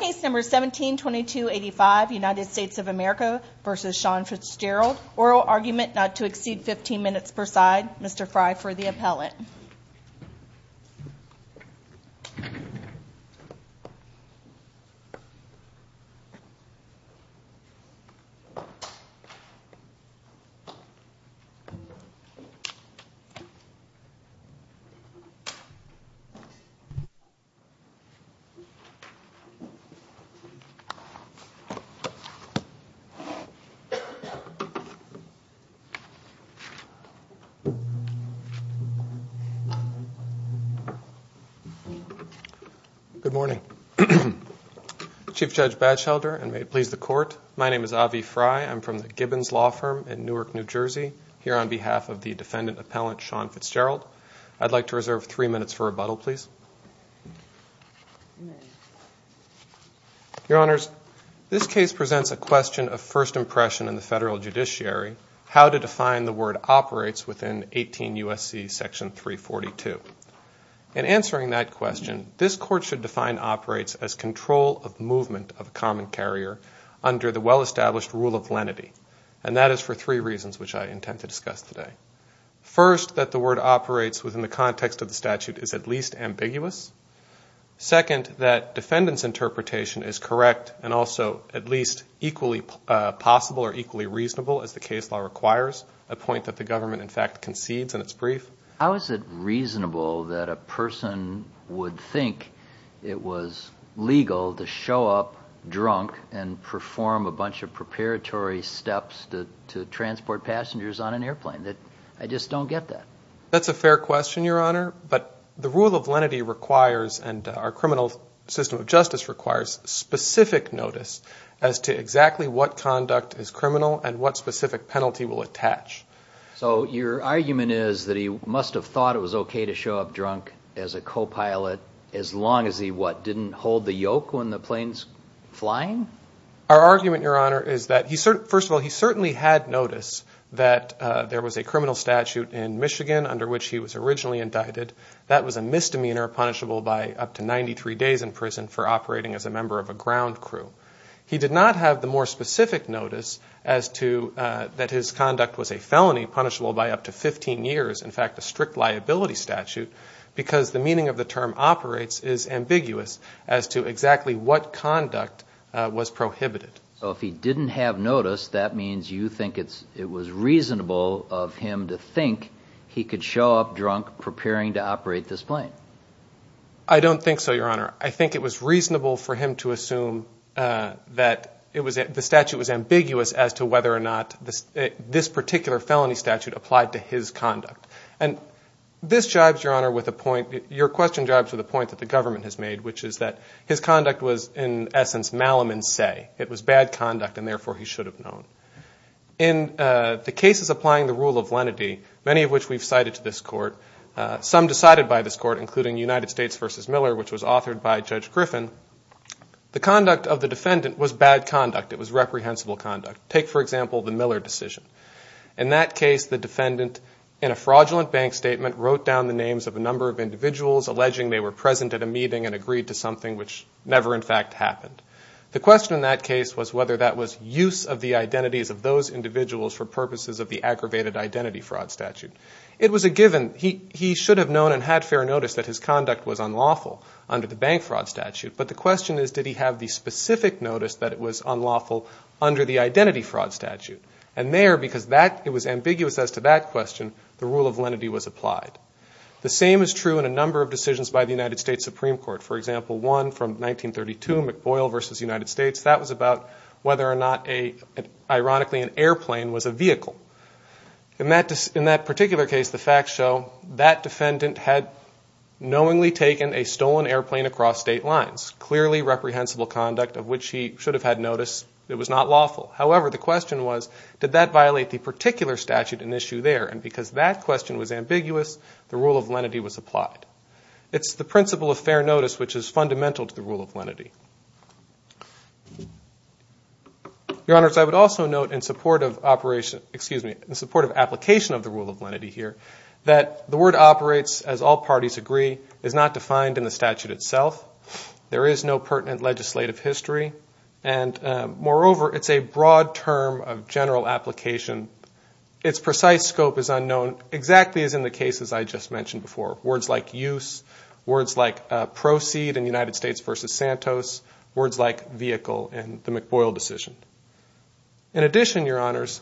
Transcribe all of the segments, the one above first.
Case No. 17-2285 United States of America v. Sean Fitzgerald Oral argument not to exceed 15 minutes per side Mr. Fry for the appellate Good morning. Chief Judge Badshelder, and may it please the court, my name is Avi Fry. I'm from the Gibbons Law Firm in Newark, New Jersey, here on behalf of the defendant appellate Sean Fitzgerald. I'd like to reserve three minutes for rebuttal, please. Your Honors, this case presents a question of first impression in the federal judiciary, how to define the word operates within 18 U.S.C. section 342. In answering that question, this court should define operates as control of movement of a common carrier under the well-established rule of lenity, and that is for three reasons which I intend to discuss today. First, that the word operates within the context of the statute is at least ambiguous. Second, that defendant's interpretation is correct and also at least equally possible or equally reasonable as the case law requires, a point that the government in fact concedes in its brief. How is it reasonable that a person would think it was legal to show up drunk and perform a bunch of preparatory steps to transport passengers on an airplane? I just don't get that. That's a fair question, Your Honor, but the rule of lenity requires, and our criminal system of justice requires, specific notice as to exactly what conduct is criminal and what specific penalty will attach. So your argument is that he must have thought it was okay to show up drunk as a co-pilot as long as he, what, didn't hold the yoke when the plane's flying? Our argument, Your Honor, is that first of all, he certainly had notice that there was a criminal statute in Michigan under which he was originally indicted. That was a misdemeanor punishable by up to 93 days in prison for operating as a member of a ground crew. He did not have the more specific notice as to that his conduct was a felony punishable by up to 15 years, in fact a strict liability statute, because the meaning of the term operates is ambiguous as to exactly what conduct was prohibited. So if he didn't have notice, that means you think it was reasonable of him to think he could show up drunk preparing to operate this plane? I don't think so, Your Honor. I think it was reasonable for him to assume that the statute was ambiguous as to whether or not this particular felony statute applied to his conduct. And this jibes, Your Honor, with a point, your question jibes with a point that the government has made, which is that his conduct was in essence malum in se. It was bad conduct and therefore he should have known. In the cases applying the rule of lenity, many of which we've cited to this court, some decided by this court, including United States v. Miller, which was authored by Judge Griffin, the conduct of the defendant was bad conduct. It was reprehensible conduct. Take, for example, the Miller decision. In that case, the defendant, in a fraudulent bank statement, wrote down the names of a number of individuals alleging they were present at a meeting and agreed to something which never in fact happened. The question in that case was whether that was use of the identities of those individuals for purposes of the aggravated identity fraud statute. It was a given. He should have known and had fair notice that his conduct was unlawful under the bank fraud statute, but the question is did he have the specific notice that it was unlawful under the identity fraud statute? And there, because it was ambiguous as to that question, the rule of lenity was applied. The same is true in a number of decisions by the United States Supreme Court. For example, one from 1932, McBoyle v. United States, that was about whether or not, ironically, an airplane was a vehicle. In that particular case, the facts show that defendant had knowingly taken a stolen airplane across state lines, clearly reprehensible conduct of which he should have had notice it was not lawful. However, the question was did that violate the particular statute in issue there? And because that question was ambiguous, the rule of lenity was applied. It's the principle of fair notice which is fundamental to the rule of lenity. Your Honors, I would also note in support of application of the rule of lenity here that the word operates, as all parties agree, is not defined in the statute itself. There is no pertinent legislative history, and moreover, it's a broad term of general application. Its precise scope is unknown, exactly as in the cases I just mentioned before, words like use, words like proceed in United States v. Santos, words like vehicle in the McBoyle decision. In addition, Your Honors,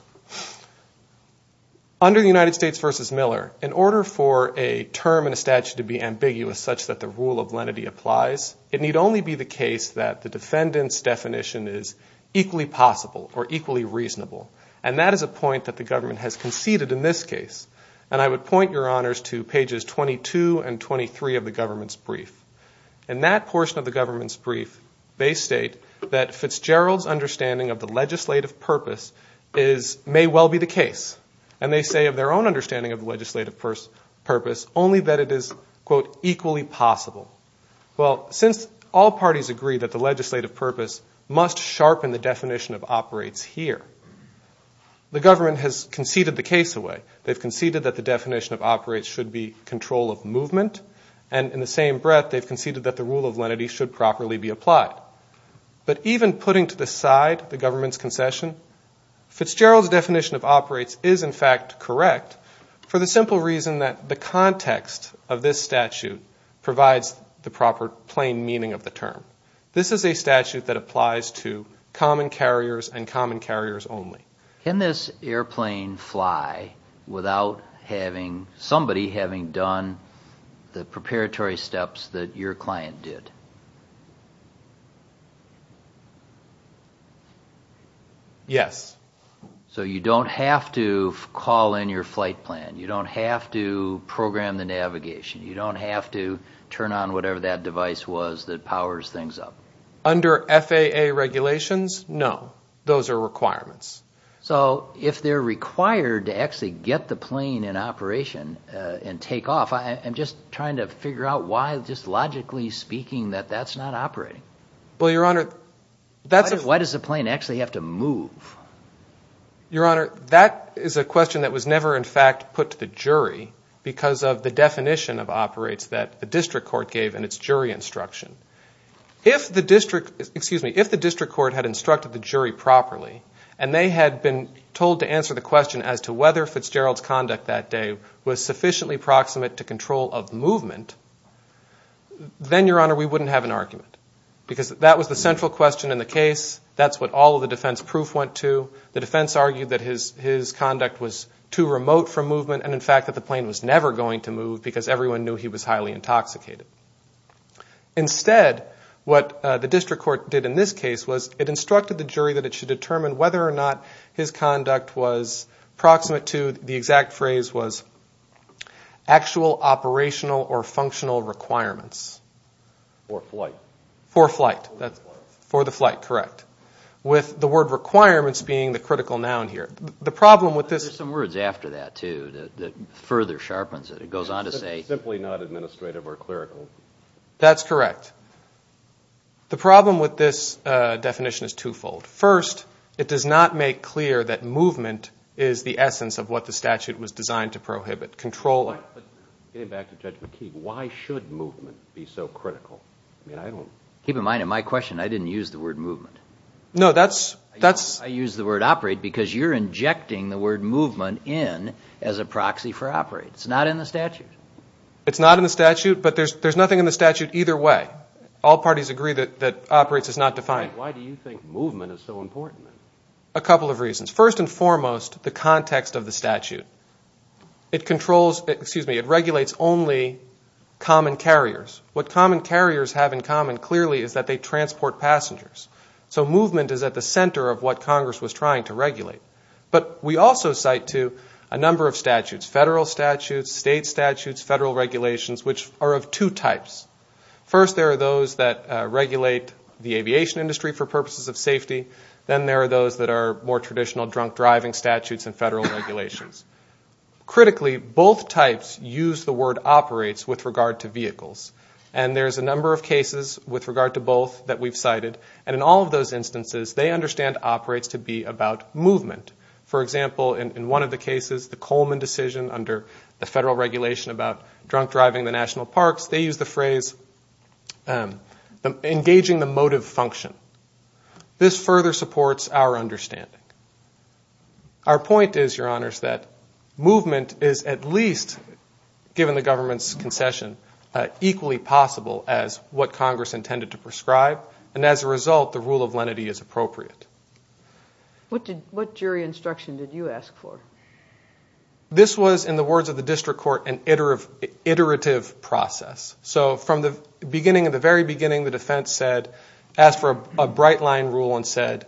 under the United States v. Miller, in order for a term in a statute to be ambiguous such that the rule of lenity applies, it need only be the case that the defendant's definition is equally possible or equally reasonable. And that is a point that the government has conceded in this case. And I would point, Your Honors, to pages 22 and 23 of the government's brief. In that portion of the government's brief, they state that Fitzgerald's understanding of the legislative purpose may well be the case. And they say of their own understanding of the legislative purpose only that it is, quote, equally possible. Well, since all parties agree that the legislative purpose must sharpen the definition of operates here, the government has conceded the case away. They've conceded that the definition of operates should be control of movement. And in the same breath, they've conceded that the rule of lenity should properly be applied. But even putting to the side the government's concession, Fitzgerald's definition of operates is, in fact, correct for the simple reason that the context of this statute provides the proper plain meaning of the term. This is a statute that applies to common carriers and common carriers only. Can this airplane fly without somebody having done the preparatory steps that your client did? Yes. So you don't have to call in your flight plan. You don't have to program the navigation. You don't have to turn on whatever that device was that powers things up. Under FAA regulations, no. Those are requirements. So if they're required to actually get the plane in operation and take off, I'm just trying to figure out why, just logically speaking, that that's not operating. Well, Your Honor, that's a... Why does the plane actually have to move? Your Honor, that is a question that was never, in fact, put to the jury because of the definition of operates that the district court gave in its jury instruction. If the district court had instructed the jury properly and they had been told to answer the question as to whether Fitzgerald's conduct that day was sufficiently proximate to control of movement, then, Your Honor, we wouldn't have an argument. Because that was the central question in the case. That's what all of the defense proof went to. The defense argued that his conduct was too remote for movement and, in fact, that the plane was never going to move because everyone knew he was highly intoxicated. Instead, what the district court did in this case was it instructed the jury that it should determine whether or not his conduct was proximate to the exact phrase was actual operational or functional requirements. For flight. For flight. For the flight. For the flight, correct. With the word requirements being the critical noun here. The problem with this... There's some words after that, too, that further sharpens it. It goes on to say... That's correct. The problem with this definition is twofold. First, it does not make clear that movement is the essence of what the statute was designed to prohibit. Getting back to Judge McKee, why should movement be so critical? Keep in mind, in my question, I didn't use the word movement. No, that's... I used the word operate because you're injecting the word movement in as a proxy for operate. It's not in the statute. It's not in the statute, but there's nothing in the statute either way. All parties agree that operate is not defined. Why do you think movement is so important? A couple of reasons. First and foremost, the context of the statute. It controls... Excuse me. It regulates only common carriers. What common carriers have in common, clearly, is that they transport passengers. So movement is at the center of what Congress was trying to regulate. But we also cite to a number of statutes. Federal statutes, state statutes, federal regulations, which are of two types. First, there are those that regulate the aviation industry for purposes of safety. Then there are those that are more traditional drunk driving statutes and federal regulations. Critically, both types use the word operates with regard to vehicles. And there's a number of cases with regard to both that we've cited. And in all of those instances, they understand operates to be about movement. For example, in one of the cases, the Coleman decision under the federal regulation about drunk driving the national parks, they used the phrase engaging the motive function. This further supports our understanding. Our point is, Your Honors, that movement is at least, given the government's concession, equally possible as what Congress intended to prescribe. And as a result, the rule of lenity is appropriate. What jury instruction did you ask for? This was, in the words of the district court, an iterative process. So from the beginning, at the very beginning, the defense asked for a bright line rule and said,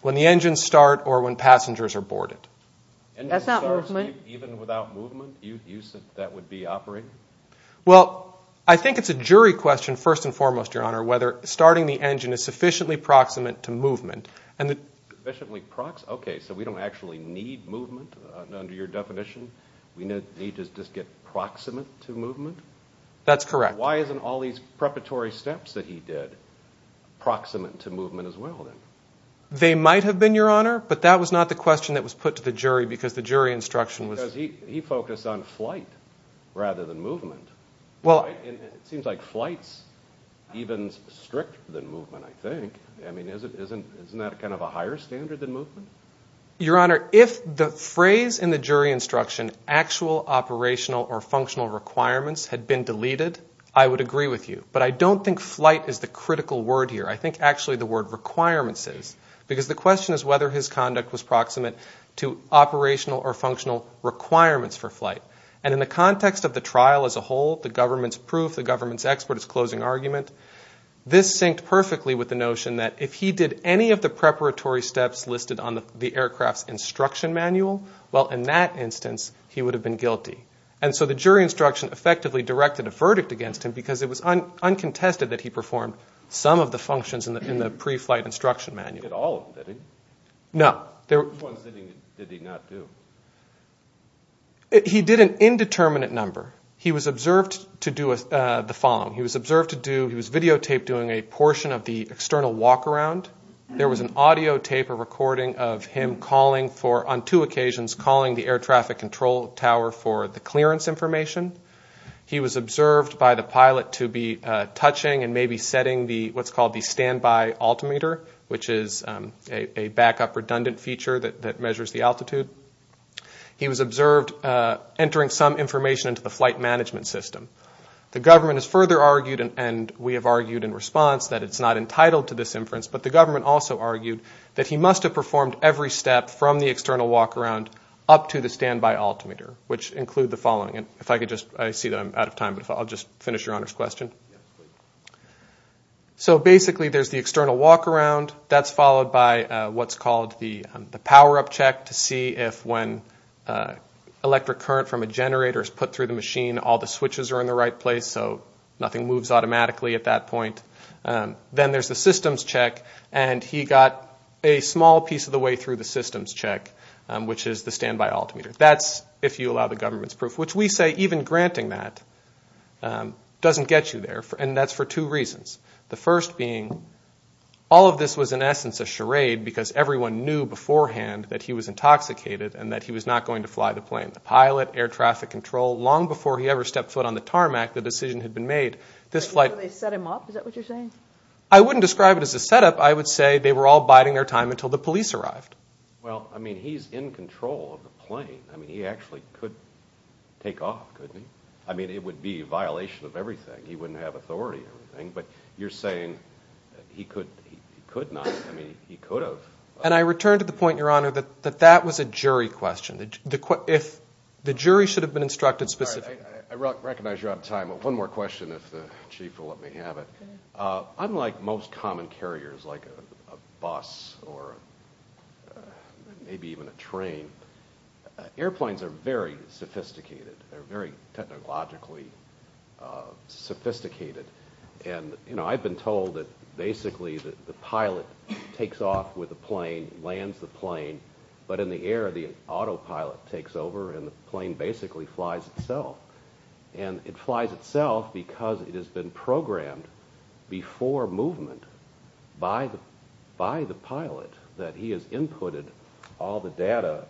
when the engines start or when passengers are boarded. That's not movement? Even without movement, you said that would be operating? Well, I think it's a jury question first and foremost, Your Honor, whether starting the engine is sufficiently proximate to movement. Okay, so we don't actually need movement under your definition? We need to just get proximate to movement? That's correct. Why isn't all these preparatory steps that he did proximate to movement as well? They might have been, Your Honor, but that was not the question that was put to the jury because the jury instruction was he focused on flight rather than movement. It seems like flight is even stricter than movement, I think. I mean, isn't that kind of a higher standard than movement? Your Honor, if the phrase in the jury instruction, actual operational or functional requirements had been deleted, I would agree with you. But I don't think flight is the critical word here. I think actually the word requirements is. Because the question is whether his conduct was proximate to operational or functional requirements for flight. And in the context of the trial as a whole, the government's proof, the government's expert, its closing argument, this synced perfectly with the notion that if he did any of the preparatory steps listed on the aircraft's instruction manual, well, in that instance, he would have been guilty. And so the jury instruction effectively directed a verdict against him because it was uncontested that he performed some of the functions in the pre-flight instruction manual. He did all of them, did he? No. Which ones did he not do? He did an indeterminate number. He was observed to do the following. He was observed to do, he was videotaped doing a portion of the external walk-around. There was an audio tape, a recording of him calling for, on two occasions, calling the air traffic control tower for the clearance information. He was observed by the pilot to be touching and maybe setting what's called the standby altimeter, which is a backup redundant feature that measures the altitude. He was observed entering some information into the flight management system. The government has further argued, and we have argued in response, that it's not entitled to this inference, but the government also argued that he must have performed every step from the external walk-around up to the standby altimeter, which include the following. If I could just, I see that I'm out of time, but I'll just finish Your Honor's question. So basically there's the external walk-around. That's followed by what's called the power-up check to see if when electric current from a generator is put through the machine, all the switches are in the right place so nothing moves automatically at that point. Then there's the systems check, and he got a small piece of the way through the systems check, which is the standby altimeter. That's, if you allow the government's proof, which we say even granting that doesn't get you there, and that's for two reasons. The first being all of this was in essence a charade because everyone knew beforehand that he was intoxicated and that he was not going to fly the plane. The pilot, air traffic control, long before he ever stepped foot on the tarmac, the decision had been made. This flight- Did they set him up? Is that what you're saying? I wouldn't describe it as a setup. I would say they were all biding their time until the police arrived. Well, I mean, he's in control of the plane. I mean, he actually could take off, couldn't he? I mean, it would be a violation of everything. He wouldn't have authority over anything, but you're saying he could not. I mean, he could have. And I return to the point, Your Honor, that that was a jury question. The jury should have been instructed specifically. I recognize you're out of time, but one more question if the chief will let me have it. Unlike most common carriers like a bus or maybe even a train, airplanes are very sophisticated. They're very technologically sophisticated. And I've been told that basically the pilot takes off with the plane, lands the plane, but in the air the autopilot takes over and the plane basically flies itself. And it flies itself because it has been programmed before movement by the pilot that he has inputted all the data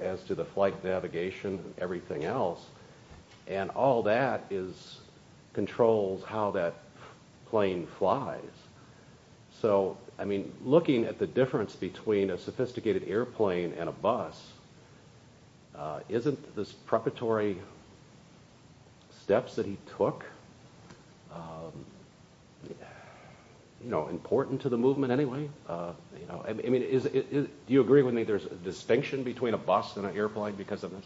as to the flight navigation and everything else. And all that controls how that plane flies. So, I mean, looking at the difference between a sophisticated airplane and a bus, isn't this preparatory steps that he took important to the movement anyway? I mean, do you agree with me there's a distinction between a bus and an airplane because of this?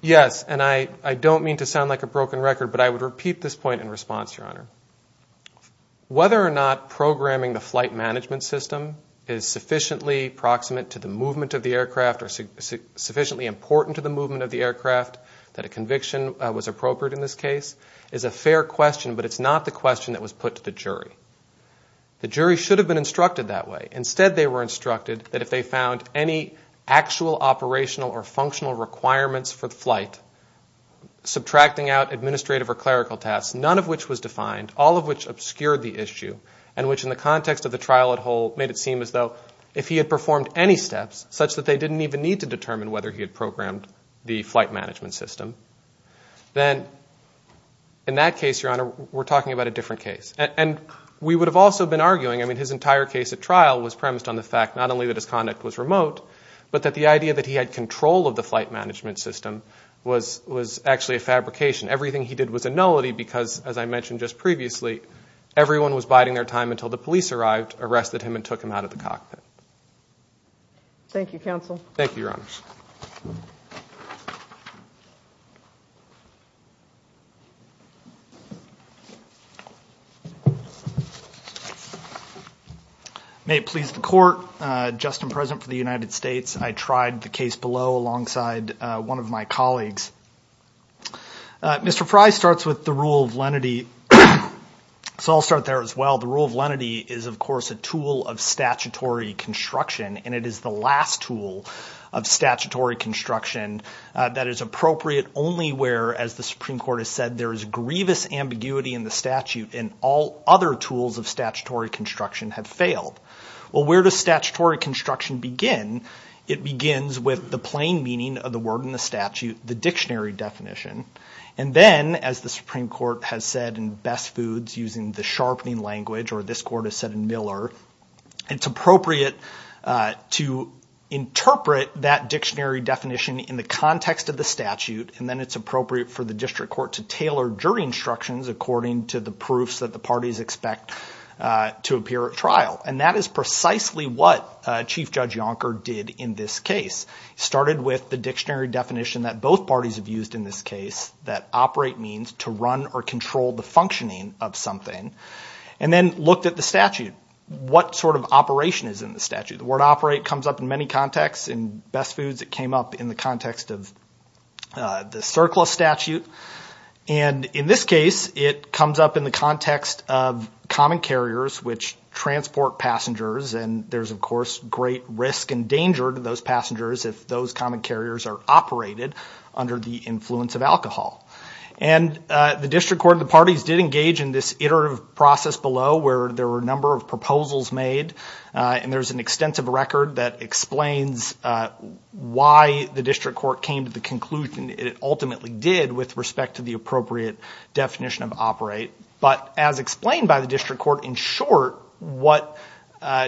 Yes, and I don't mean to sound like a broken record, but I would repeat this point in response, Your Honor. Whether or not programming the flight management system is sufficiently proximate to the movement of the aircraft or sufficiently important to the movement of the aircraft that a conviction was appropriate in this case is a fair question, but it's not the question that was put to the jury. The jury should have been instructed that way. Instead, they were instructed that if they found any actual operational or functional requirements for the flight, subtracting out administrative or clerical tasks, none of which was defined, all of which obscured the issue, and which in the context of the trial at whole made it seem as though if he had performed any steps such that they didn't even need to determine whether he had programmed the flight management system, then in that case, Your Honor, we're talking about a different case. And we would have also been arguing, I mean, his entire case at trial was premised on the fact not only that his conduct was remote, but that the idea that he had control of the flight management system was actually a fabrication. Everything he did was a nullity because, as I mentioned just previously, everyone was biding their time until the police arrived, arrested him, and took him out of the cockpit. Thank you, counsel. Thank you, Your Honor. May it please the Court, just in present for the United States, I tried the case below alongside one of my colleagues. Mr. Fry starts with the rule of lenity, so I'll start there as well. The rule of lenity is, of course, a tool of statutory construction, and it is the last tool of statutory construction that is appropriate only where, as the Supreme Court has said, there is grievous ambiguity in the statute and all other tools of statutory construction have failed. Well, where does statutory construction begin? It begins with the plain meaning of the word in the statute, the dictionary definition. And then, as the Supreme Court has said in Best Foods using the sharpening language, or this Court has said in Miller, it's appropriate to interpret that dictionary definition in the context of the statute, and then it's appropriate for the district court to tailor jury instructions according to the proofs that the parties expect to appear at trial. And that is precisely what Chief Judge Yonker did in this case. He started with the dictionary definition that both parties have used in this case, that operate means to run or control the functioning of something, and then looked at the statute. What sort of operation is in the statute? The word operate comes up in many contexts. In Best Foods, it came up in the context of the CERCLA statute. And in this case, it comes up in the context of common carriers, which transport passengers, and there's, of course, great risk and danger to those passengers if those common carriers are operated under the influence of alcohol. And the district court and the parties did engage in this iterative process below where there were a number of proposals made, and there's an extensive record that explains why the district court came to the conclusion it ultimately did with respect to the appropriate definition of operate. But as explained by the district court, in short, what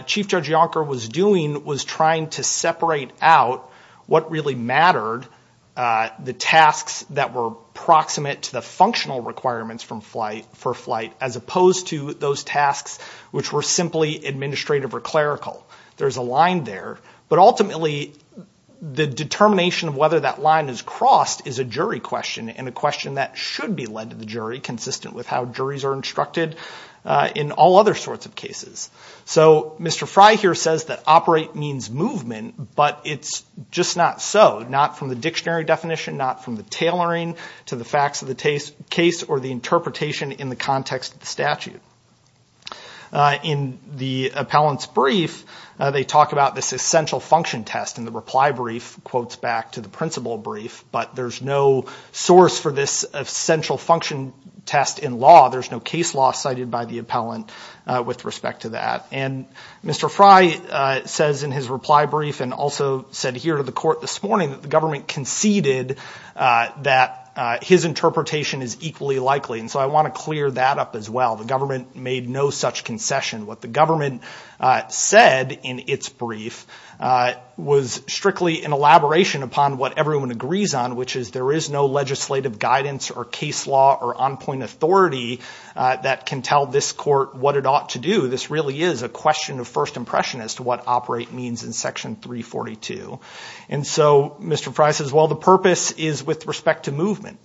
Chief Judge Yonker was doing was trying to separate out what really mattered, the tasks that were proximate to the functional requirements for flight, as opposed to those tasks which were simply administrative or clerical. There's a line there. But ultimately, the determination of whether that line is crossed is a jury question, and a question that should be led to the jury, consistent with how juries are instructed in all other sorts of cases. So Mr. Fry here says that operate means movement, but it's just not so, not from the dictionary definition, not from the tailoring to the facts of the case or the interpretation in the context of the statute. In the appellant's brief, they talk about this essential function test, and the reply brief quotes back to the principal brief, but there's no source for this essential function test in law. There's no case law cited by the appellant with respect to that. And Mr. Fry says in his reply brief and also said here to the court this morning that the government conceded that his interpretation is equally likely, and so I want to clear that up as well. The government made no such concession. What the government said in its brief was strictly an elaboration upon what everyone agrees on, which is there is no legislative guidance or case law or on-point authority that can tell this court what it ought to do. This really is a question of first impression as to what operate means in Section 342. And so Mr. Fry says, well, the purpose is with respect to movement.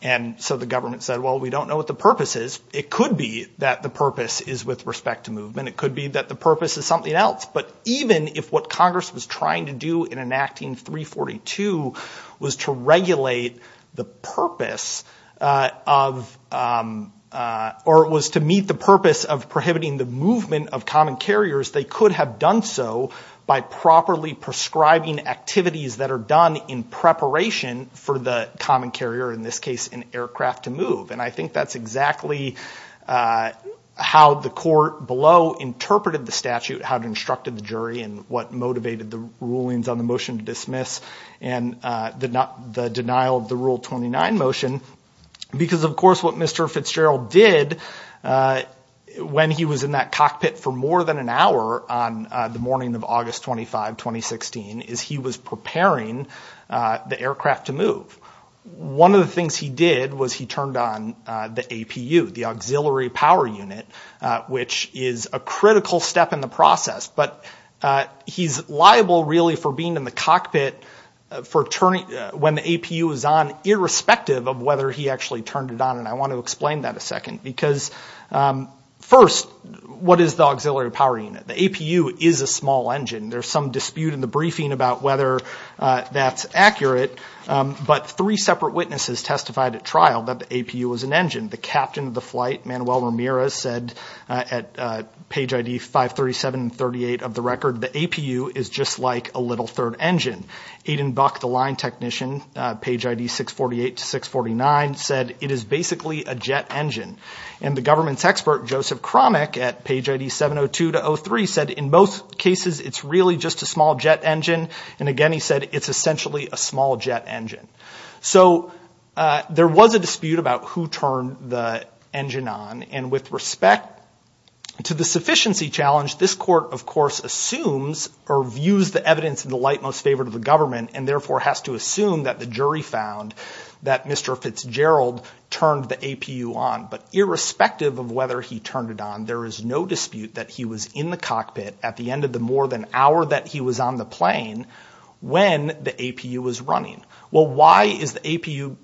And so the government said, well, we don't know what the purpose is. It could be that the purpose is with respect to movement. It could be that the purpose is something else. But even if what Congress was trying to do in enacting 342 was to regulate the purpose of or was to meet the purpose of prohibiting the movement of common carriers, they could have done so by properly prescribing activities that are done in preparation for the common carrier, in this case an aircraft, to move. And I think that's exactly how the court below interpreted the statute, how it instructed the jury and what motivated the rulings on the motion to dismiss and the denial of the Rule 29 motion because, of course, what Mr. Fitzgerald did when he was in that cockpit for more than an hour on the morning of August 25, 2016, is he was preparing the aircraft to move. One of the things he did was he turned on the APU, the auxiliary power unit, which is a critical step in the process. But he's liable really for being in the cockpit when the APU is on, irrespective of whether he actually turned it on. And I want to explain that a second because, first, what is the auxiliary power unit? The APU is a small engine. There's some dispute in the briefing about whether that's accurate. But three separate witnesses testified at trial that the APU was an engine. The captain of the flight, Manuel Ramirez, said at page ID 537 and 38 of the record, the APU is just like a little third engine. Aiden Buck, the line technician, page ID 648 to 649, said it is basically a jet engine. And the government's expert, Joseph Cromack, at page ID 702 to 03, said in most cases it's really just a small jet engine. And, again, he said it's essentially a small jet engine. So there was a dispute about who turned the engine on. And with respect to the sufficiency challenge, this court, of course, assumes or views the evidence in the light most favored of the government and therefore has to assume that the jury found that Mr. Fitzgerald turned the APU on. But irrespective of whether he turned it on, there is no dispute that he was in the cockpit at the end of the more than hour that he was on the plane when the APU was running. Well, why is the APU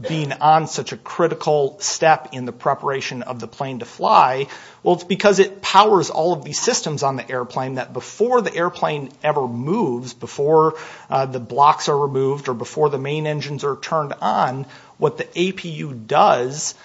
being on such a critical step in the preparation of the plane to fly? Well, it's because it powers all of these systems on the airplane that before the airplane ever moves, before the blocks are removed or before the main engines are turned on, what the APU does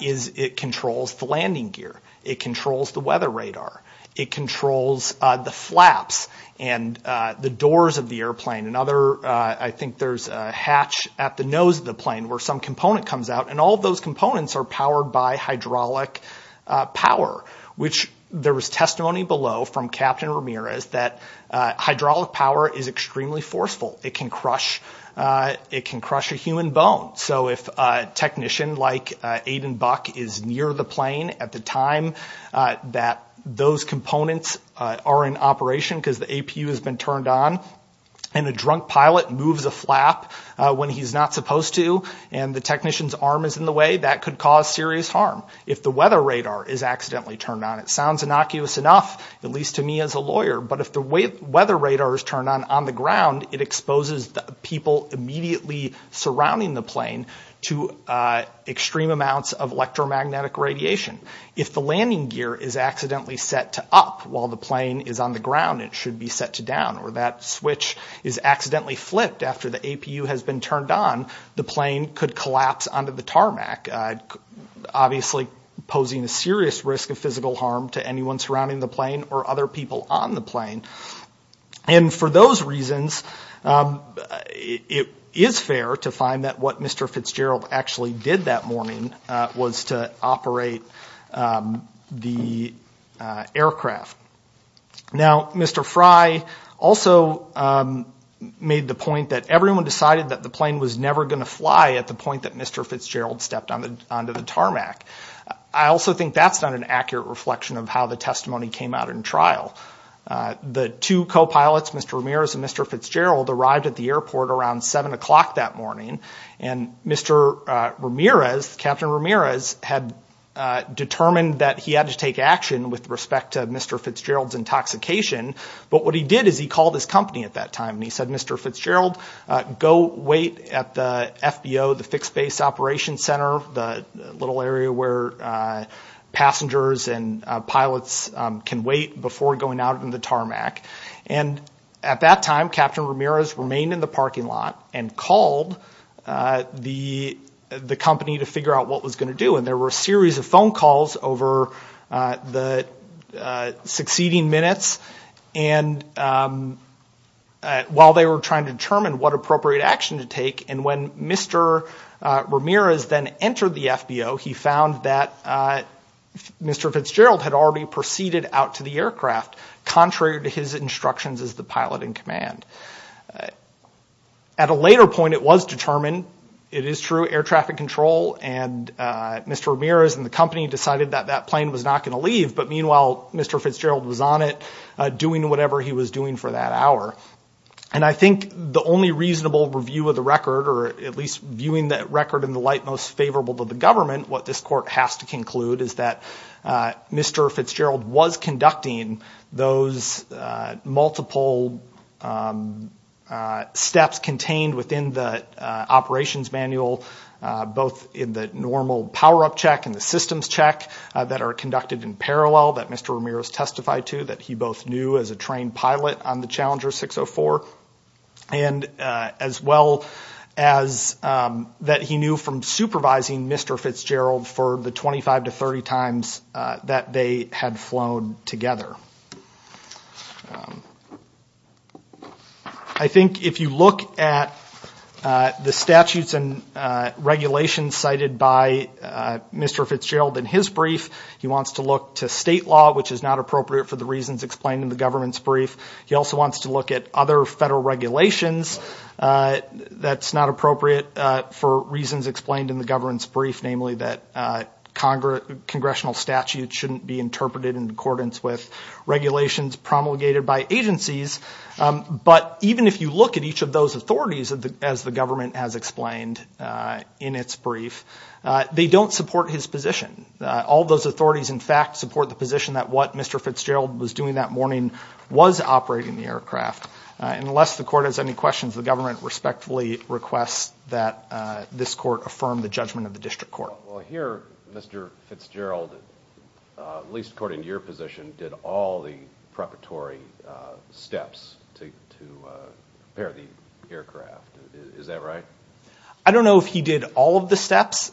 is it controls the landing gear. It controls the weather radar. It controls the flaps and the doors of the airplane. I think there's a hatch at the nose of the plane where some component comes out, and all of those components are powered by hydraulic power, which there was testimony below from Captain Ramirez that hydraulic power is extremely forceful. It can crush a human bone. So if a technician like Aiden Buck is near the plane at the time that those components are in operation because the APU has been turned on, and a drunk pilot moves a flap when he's not supposed to and the technician's arm is in the way, that could cause serious harm. If the weather radar is accidentally turned on, it sounds innocuous enough, at least to me as a lawyer, but if the weather radar is turned on on the ground, it exposes the people immediately surrounding the plane to extreme amounts of electromagnetic radiation. If the landing gear is accidentally set to up while the plane is on the ground, it should be set to down, or that switch is accidentally flipped after the APU has been turned on, the plane could collapse onto the tarmac, obviously posing a serious risk of physical harm to anyone surrounding the plane or other people on the plane. And for those reasons, it is fair to find that what Mr. Fitzgerald actually did that morning was to operate the aircraft. Now, Mr. Fry also made the point that everyone decided that the plane was never going to fly at the point that Mr. Fitzgerald stepped onto the tarmac. I also think that's not an accurate reflection of how the testimony came out in trial. The two co-pilots, Mr. Ramirez and Mr. Fitzgerald, arrived at the airport around 7 o'clock that morning, and Mr. Ramirez, Captain Ramirez, had determined that he had to take action with respect to Mr. Fitzgerald's intoxication. But what he did is he called his company at that time, and he said, Mr. Fitzgerald, go wait at the FBO, the Fixed Base Operations Center, the little area where passengers and pilots can wait before going out in the tarmac. And at that time, Captain Ramirez remained in the parking lot and called the company to figure out what was going to do. And there were a series of phone calls over the succeeding minutes, and while they were trying to determine what appropriate action to take, and when Mr. Ramirez then entered the FBO, he found that Mr. Fitzgerald had already proceeded out to the aircraft. Contrary to his instructions as the pilot in command. At a later point, it was determined, it is true, air traffic control, and Mr. Ramirez and the company decided that that plane was not going to leave. But meanwhile, Mr. Fitzgerald was on it, doing whatever he was doing for that hour. And I think the only reasonable review of the record, or at least viewing that record in the light most favorable to the government, what this court has to conclude is that Mr. Fitzgerald was conducting those multiple steps contained within the operations manual, both in the normal power-up check and the systems check that are conducted in parallel that Mr. Ramirez testified to, that he both knew as a trained pilot on the Challenger 604, and as well as that he knew from supervising Mr. Fitzgerald for the 25 to 30 times that they had flown together. I think if you look at the statutes and regulations cited by Mr. Fitzgerald in his brief, he wants to look to state law, which is not appropriate for the reasons explained in the government's brief. He also wants to look at other federal regulations that's not appropriate for reasons explained in the government's brief, namely that congressional statutes shouldn't be interpreted in accordance with regulations promulgated by agencies. But even if you look at each of those authorities, as the government has explained in its brief, they don't support his position. All those authorities, in fact, support the position that what Mr. Fitzgerald was doing that morning was operating the aircraft. Unless the court has any questions, the government respectfully requests that this court affirm the judgment of the district court. Well, here Mr. Fitzgerald, at least according to your position, did all the preparatory steps to prepare the aircraft. Is that right? I don't know if he did all of the steps.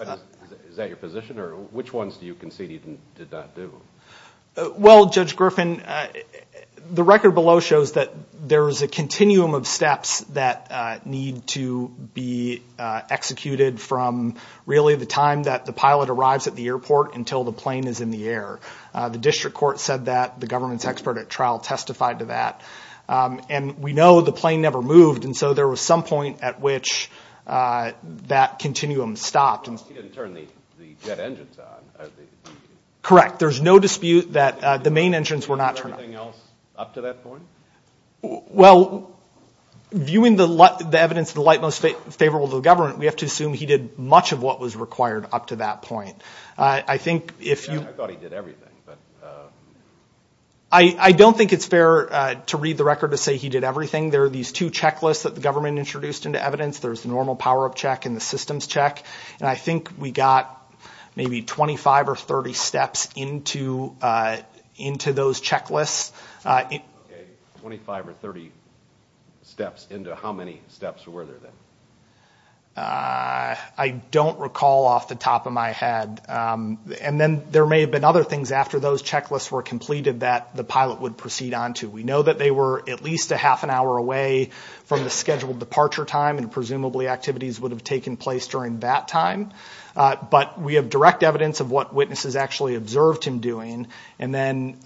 Is that your position or which ones do you concede he did not do? Well, Judge Griffin, the record below shows that there is a continuum of steps that need to be executed from really the time that the pilot arrives at the airport until the plane is in the air. The district court said that. The government's expert at trial testified to that. And we know the plane never moved, and so there was some point at which that continuum stopped. He didn't turn the jet engines on. Correct. There's no dispute that the main engines were not turned on. Did he do everything else up to that point? Well, viewing the evidence of the light most favorable to the government, we have to assume he did much of what was required up to that point. I thought he did everything. I don't think it's fair to read the record to say he did everything. There are these two checklists that the government introduced into evidence. There's the normal power-up check and the systems check. And I think we got maybe 25 or 30 steps into those checklists. Okay, 25 or 30 steps into how many steps were there then? I don't recall off the top of my head. And then there may have been other things after those checklists were completed that the pilot would proceed on to. We know that they were at least a half an hour away from the scheduled departure time, and presumably activities would have taken place during that time. But we have direct evidence of what witnesses actually observed him doing. And then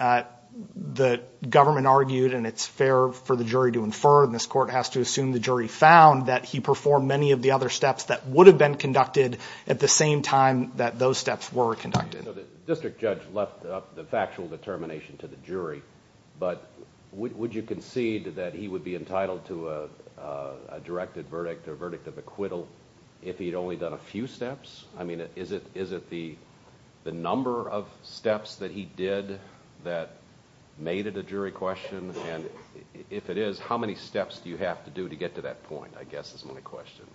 the government argued, and it's fair for the jury to infer, and this court has to assume the jury found, that he performed many of the other steps that would have been conducted at the same time that those steps were conducted. So the district judge left up the factual determination to the jury, but would you concede that he would be entitled to a directed verdict or verdict of acquittal if he had only done a few steps? I mean, is it the number of steps that he did that made it a jury question? And if it is, how many steps do you have to do to get to that point, I guess, is my question.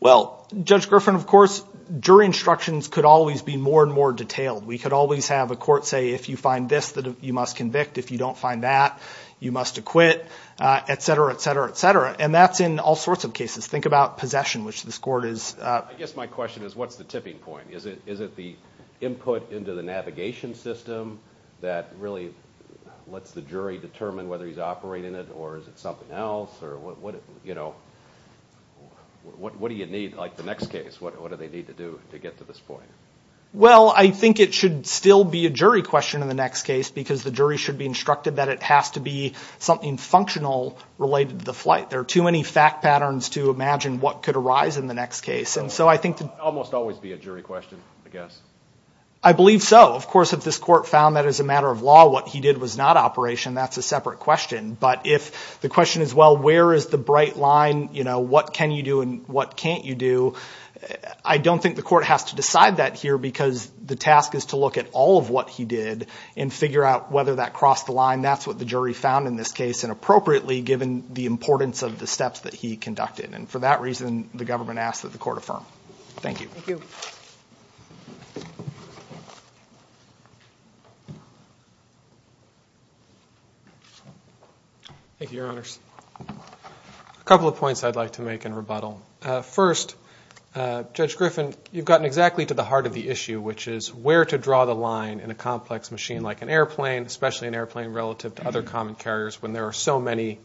Well, Judge Griffin, of course, jury instructions could always be more and more detailed. We could always have a court say, if you find this, you must convict. If you don't find that, you must acquit, et cetera, et cetera, et cetera. And that's in all sorts of cases. Think about possession, which this court is— I guess my question is, what's the tipping point? Is it the input into the navigation system that really lets the jury determine whether he's operating it, or is it something else? What do you need, like the next case, what do they need to do to get to this point? Well, I think it should still be a jury question in the next case, because the jury should be instructed that it has to be something functional related to the flight. There are too many fact patterns to imagine what could arise in the next case. It could almost always be a jury question, I guess. I believe so. Of course, if this court found that, as a matter of law, what he did was not operation, that's a separate question. But if the question is, well, where is the bright line, what can you do and what can't you do, I don't think the court has to decide that here because the task is to look at all of what he did and figure out whether that crossed the line. That's what the jury found in this case, and appropriately, given the importance of the steps that he conducted. And for that reason, the government asks that the court affirm. Thank you. Thank you. Thank you, Your Honors. A couple of points I'd like to make in rebuttal. First, Judge Griffin, you've gotten exactly to the heart of the issue, which is where to draw the line in a complex machine like an airplane, especially an airplane relative to other common carriers, when there are so many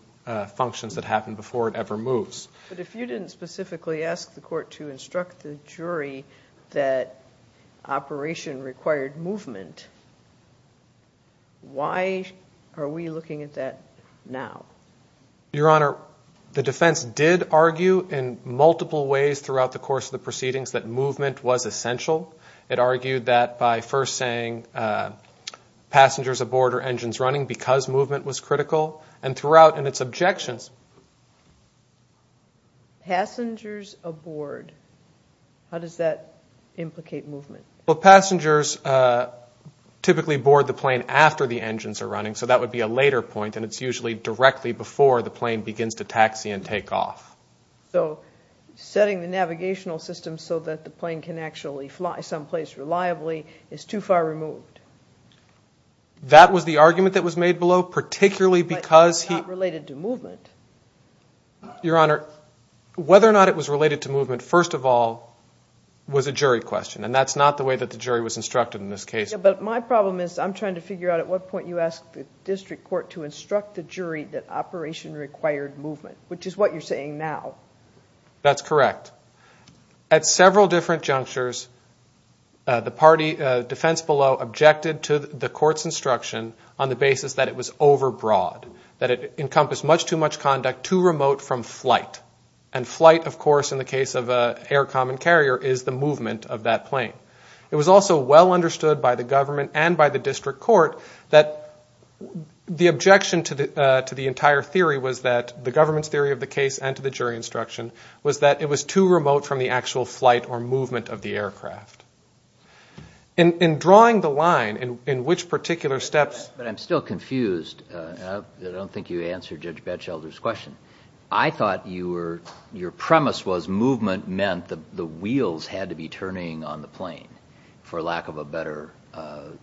functions that happen before it ever moves. But if you didn't specifically ask the court to instruct the jury that operation required movement, why are we looking at that now? Your Honor, the defense did argue in multiple ways throughout the course of the proceedings that movement was essential. It argued that by first saying passengers aboard are engines running because movement was critical, and throughout in its objections. Passengers aboard, how does that implicate movement? Well, passengers typically board the plane after the engines are running, so that would be a later point, and it's usually directly before the plane begins to taxi and take off. So setting the navigational system so that the plane can actually fly someplace reliably is too far removed. That was the argument that was made below, particularly because he... But it's not related to movement. Your Honor, whether or not it was related to movement, first of all, was a jury question, and that's not the way that the jury was instructed in this case. Yeah, but my problem is I'm trying to figure out at what point you asked the district court to instruct the jury that operation required movement, which is what you're saying now. That's correct. At several different junctures, the defense below objected to the court's instruction on the basis that it was overbroad, that it encompassed much too much conduct too remote from flight, and flight, of course, in the case of an air common carrier, is the movement of that plane. It was also well understood by the government and by the district court that the objection to the entire theory was that the government's theory of the case and to the jury instruction was that it was too remote from the actual flight or movement of the aircraft. In drawing the line in which particular steps... But I'm still confused. I don't think you answered Judge Batchelder's question. I thought your premise was movement meant the wheels had to be turning on the plane, for lack of a better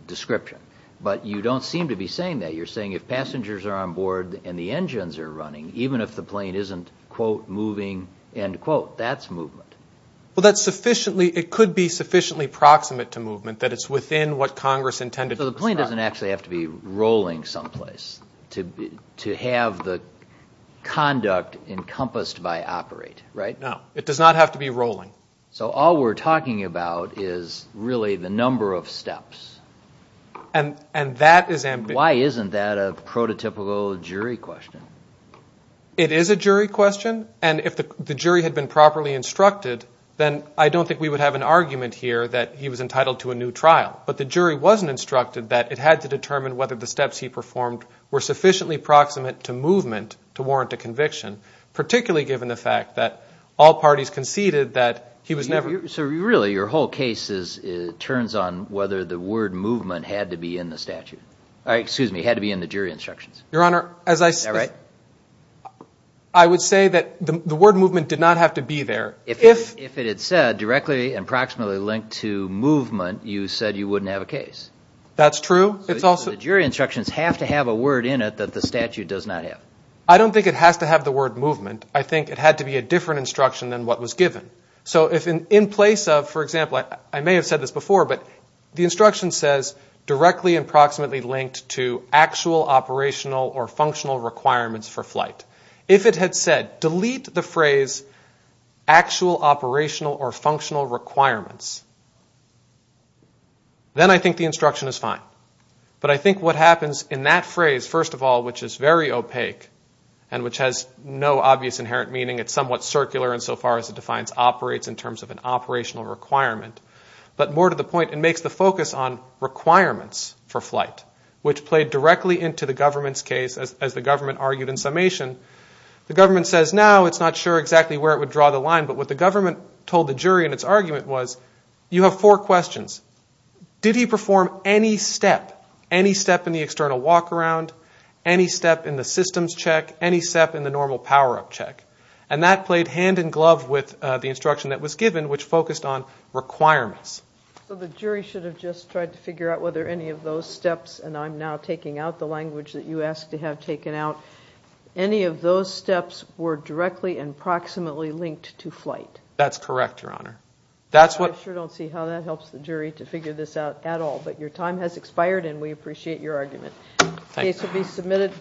description. But you don't seem to be saying that. You're saying if passengers are on board and the engines are running, even if the plane isn't, quote, moving, end quote, that's movement. Well, it could be sufficiently proximate to movement that it's within what Congress intended. So the plane doesn't actually have to be rolling someplace to have the conduct encompassed by operate, right? No, it does not have to be rolling. So all we're talking about is really the number of steps. And that is ambiguous. Why isn't that a prototypical jury question? It is a jury question, and if the jury had been properly instructed, then I don't think we would have an argument here that he was entitled to a new trial. But the jury wasn't instructed that it had to determine whether the steps he performed were sufficiently proximate to movement to warrant a conviction, particularly given the fact that all parties conceded that he was never. So really your whole case turns on whether the word movement had to be in the statute. Excuse me, had to be in the jury instructions. Your Honor, as I said, I would say that the word movement did not have to be there. If it had said directly and proximately linked to movement, you said you wouldn't have a case. That's true. The jury instructions have to have a word in it that the statute does not have. I don't think it has to have the word movement. I think it had to be a different instruction than what was given. So in place of, for example, I may have said this before, but the instruction says directly and proximately linked to actual operational or functional requirements for flight. If it had said delete the phrase actual operational or functional requirements, then I think the instruction is fine. But I think what happens in that phrase, first of all, which is very opaque and which has no obvious inherent meaning, it's somewhat circular insofar as it defines operates in terms of an operational requirement. But more to the point, it makes the focus on requirements for flight, which played directly into the government's case, as the government argued in summation. The government says now. It's not sure exactly where it would draw the line. But what the government told the jury in its argument was you have four questions. Did he perform any step, any step in the external walk-around, any step in the systems check, any step in the normal power-up check? And that played hand-in-glove with the instruction that was given, which focused on requirements. So the jury should have just tried to figure out whether any of those steps, and I'm now taking out the language that you asked to have taken out, any of those steps were directly and proximately linked to flight? That's correct, Your Honor. I sure don't see how that helps the jury to figure this out at all. But your time has expired, and we appreciate your argument. The case will be submitted.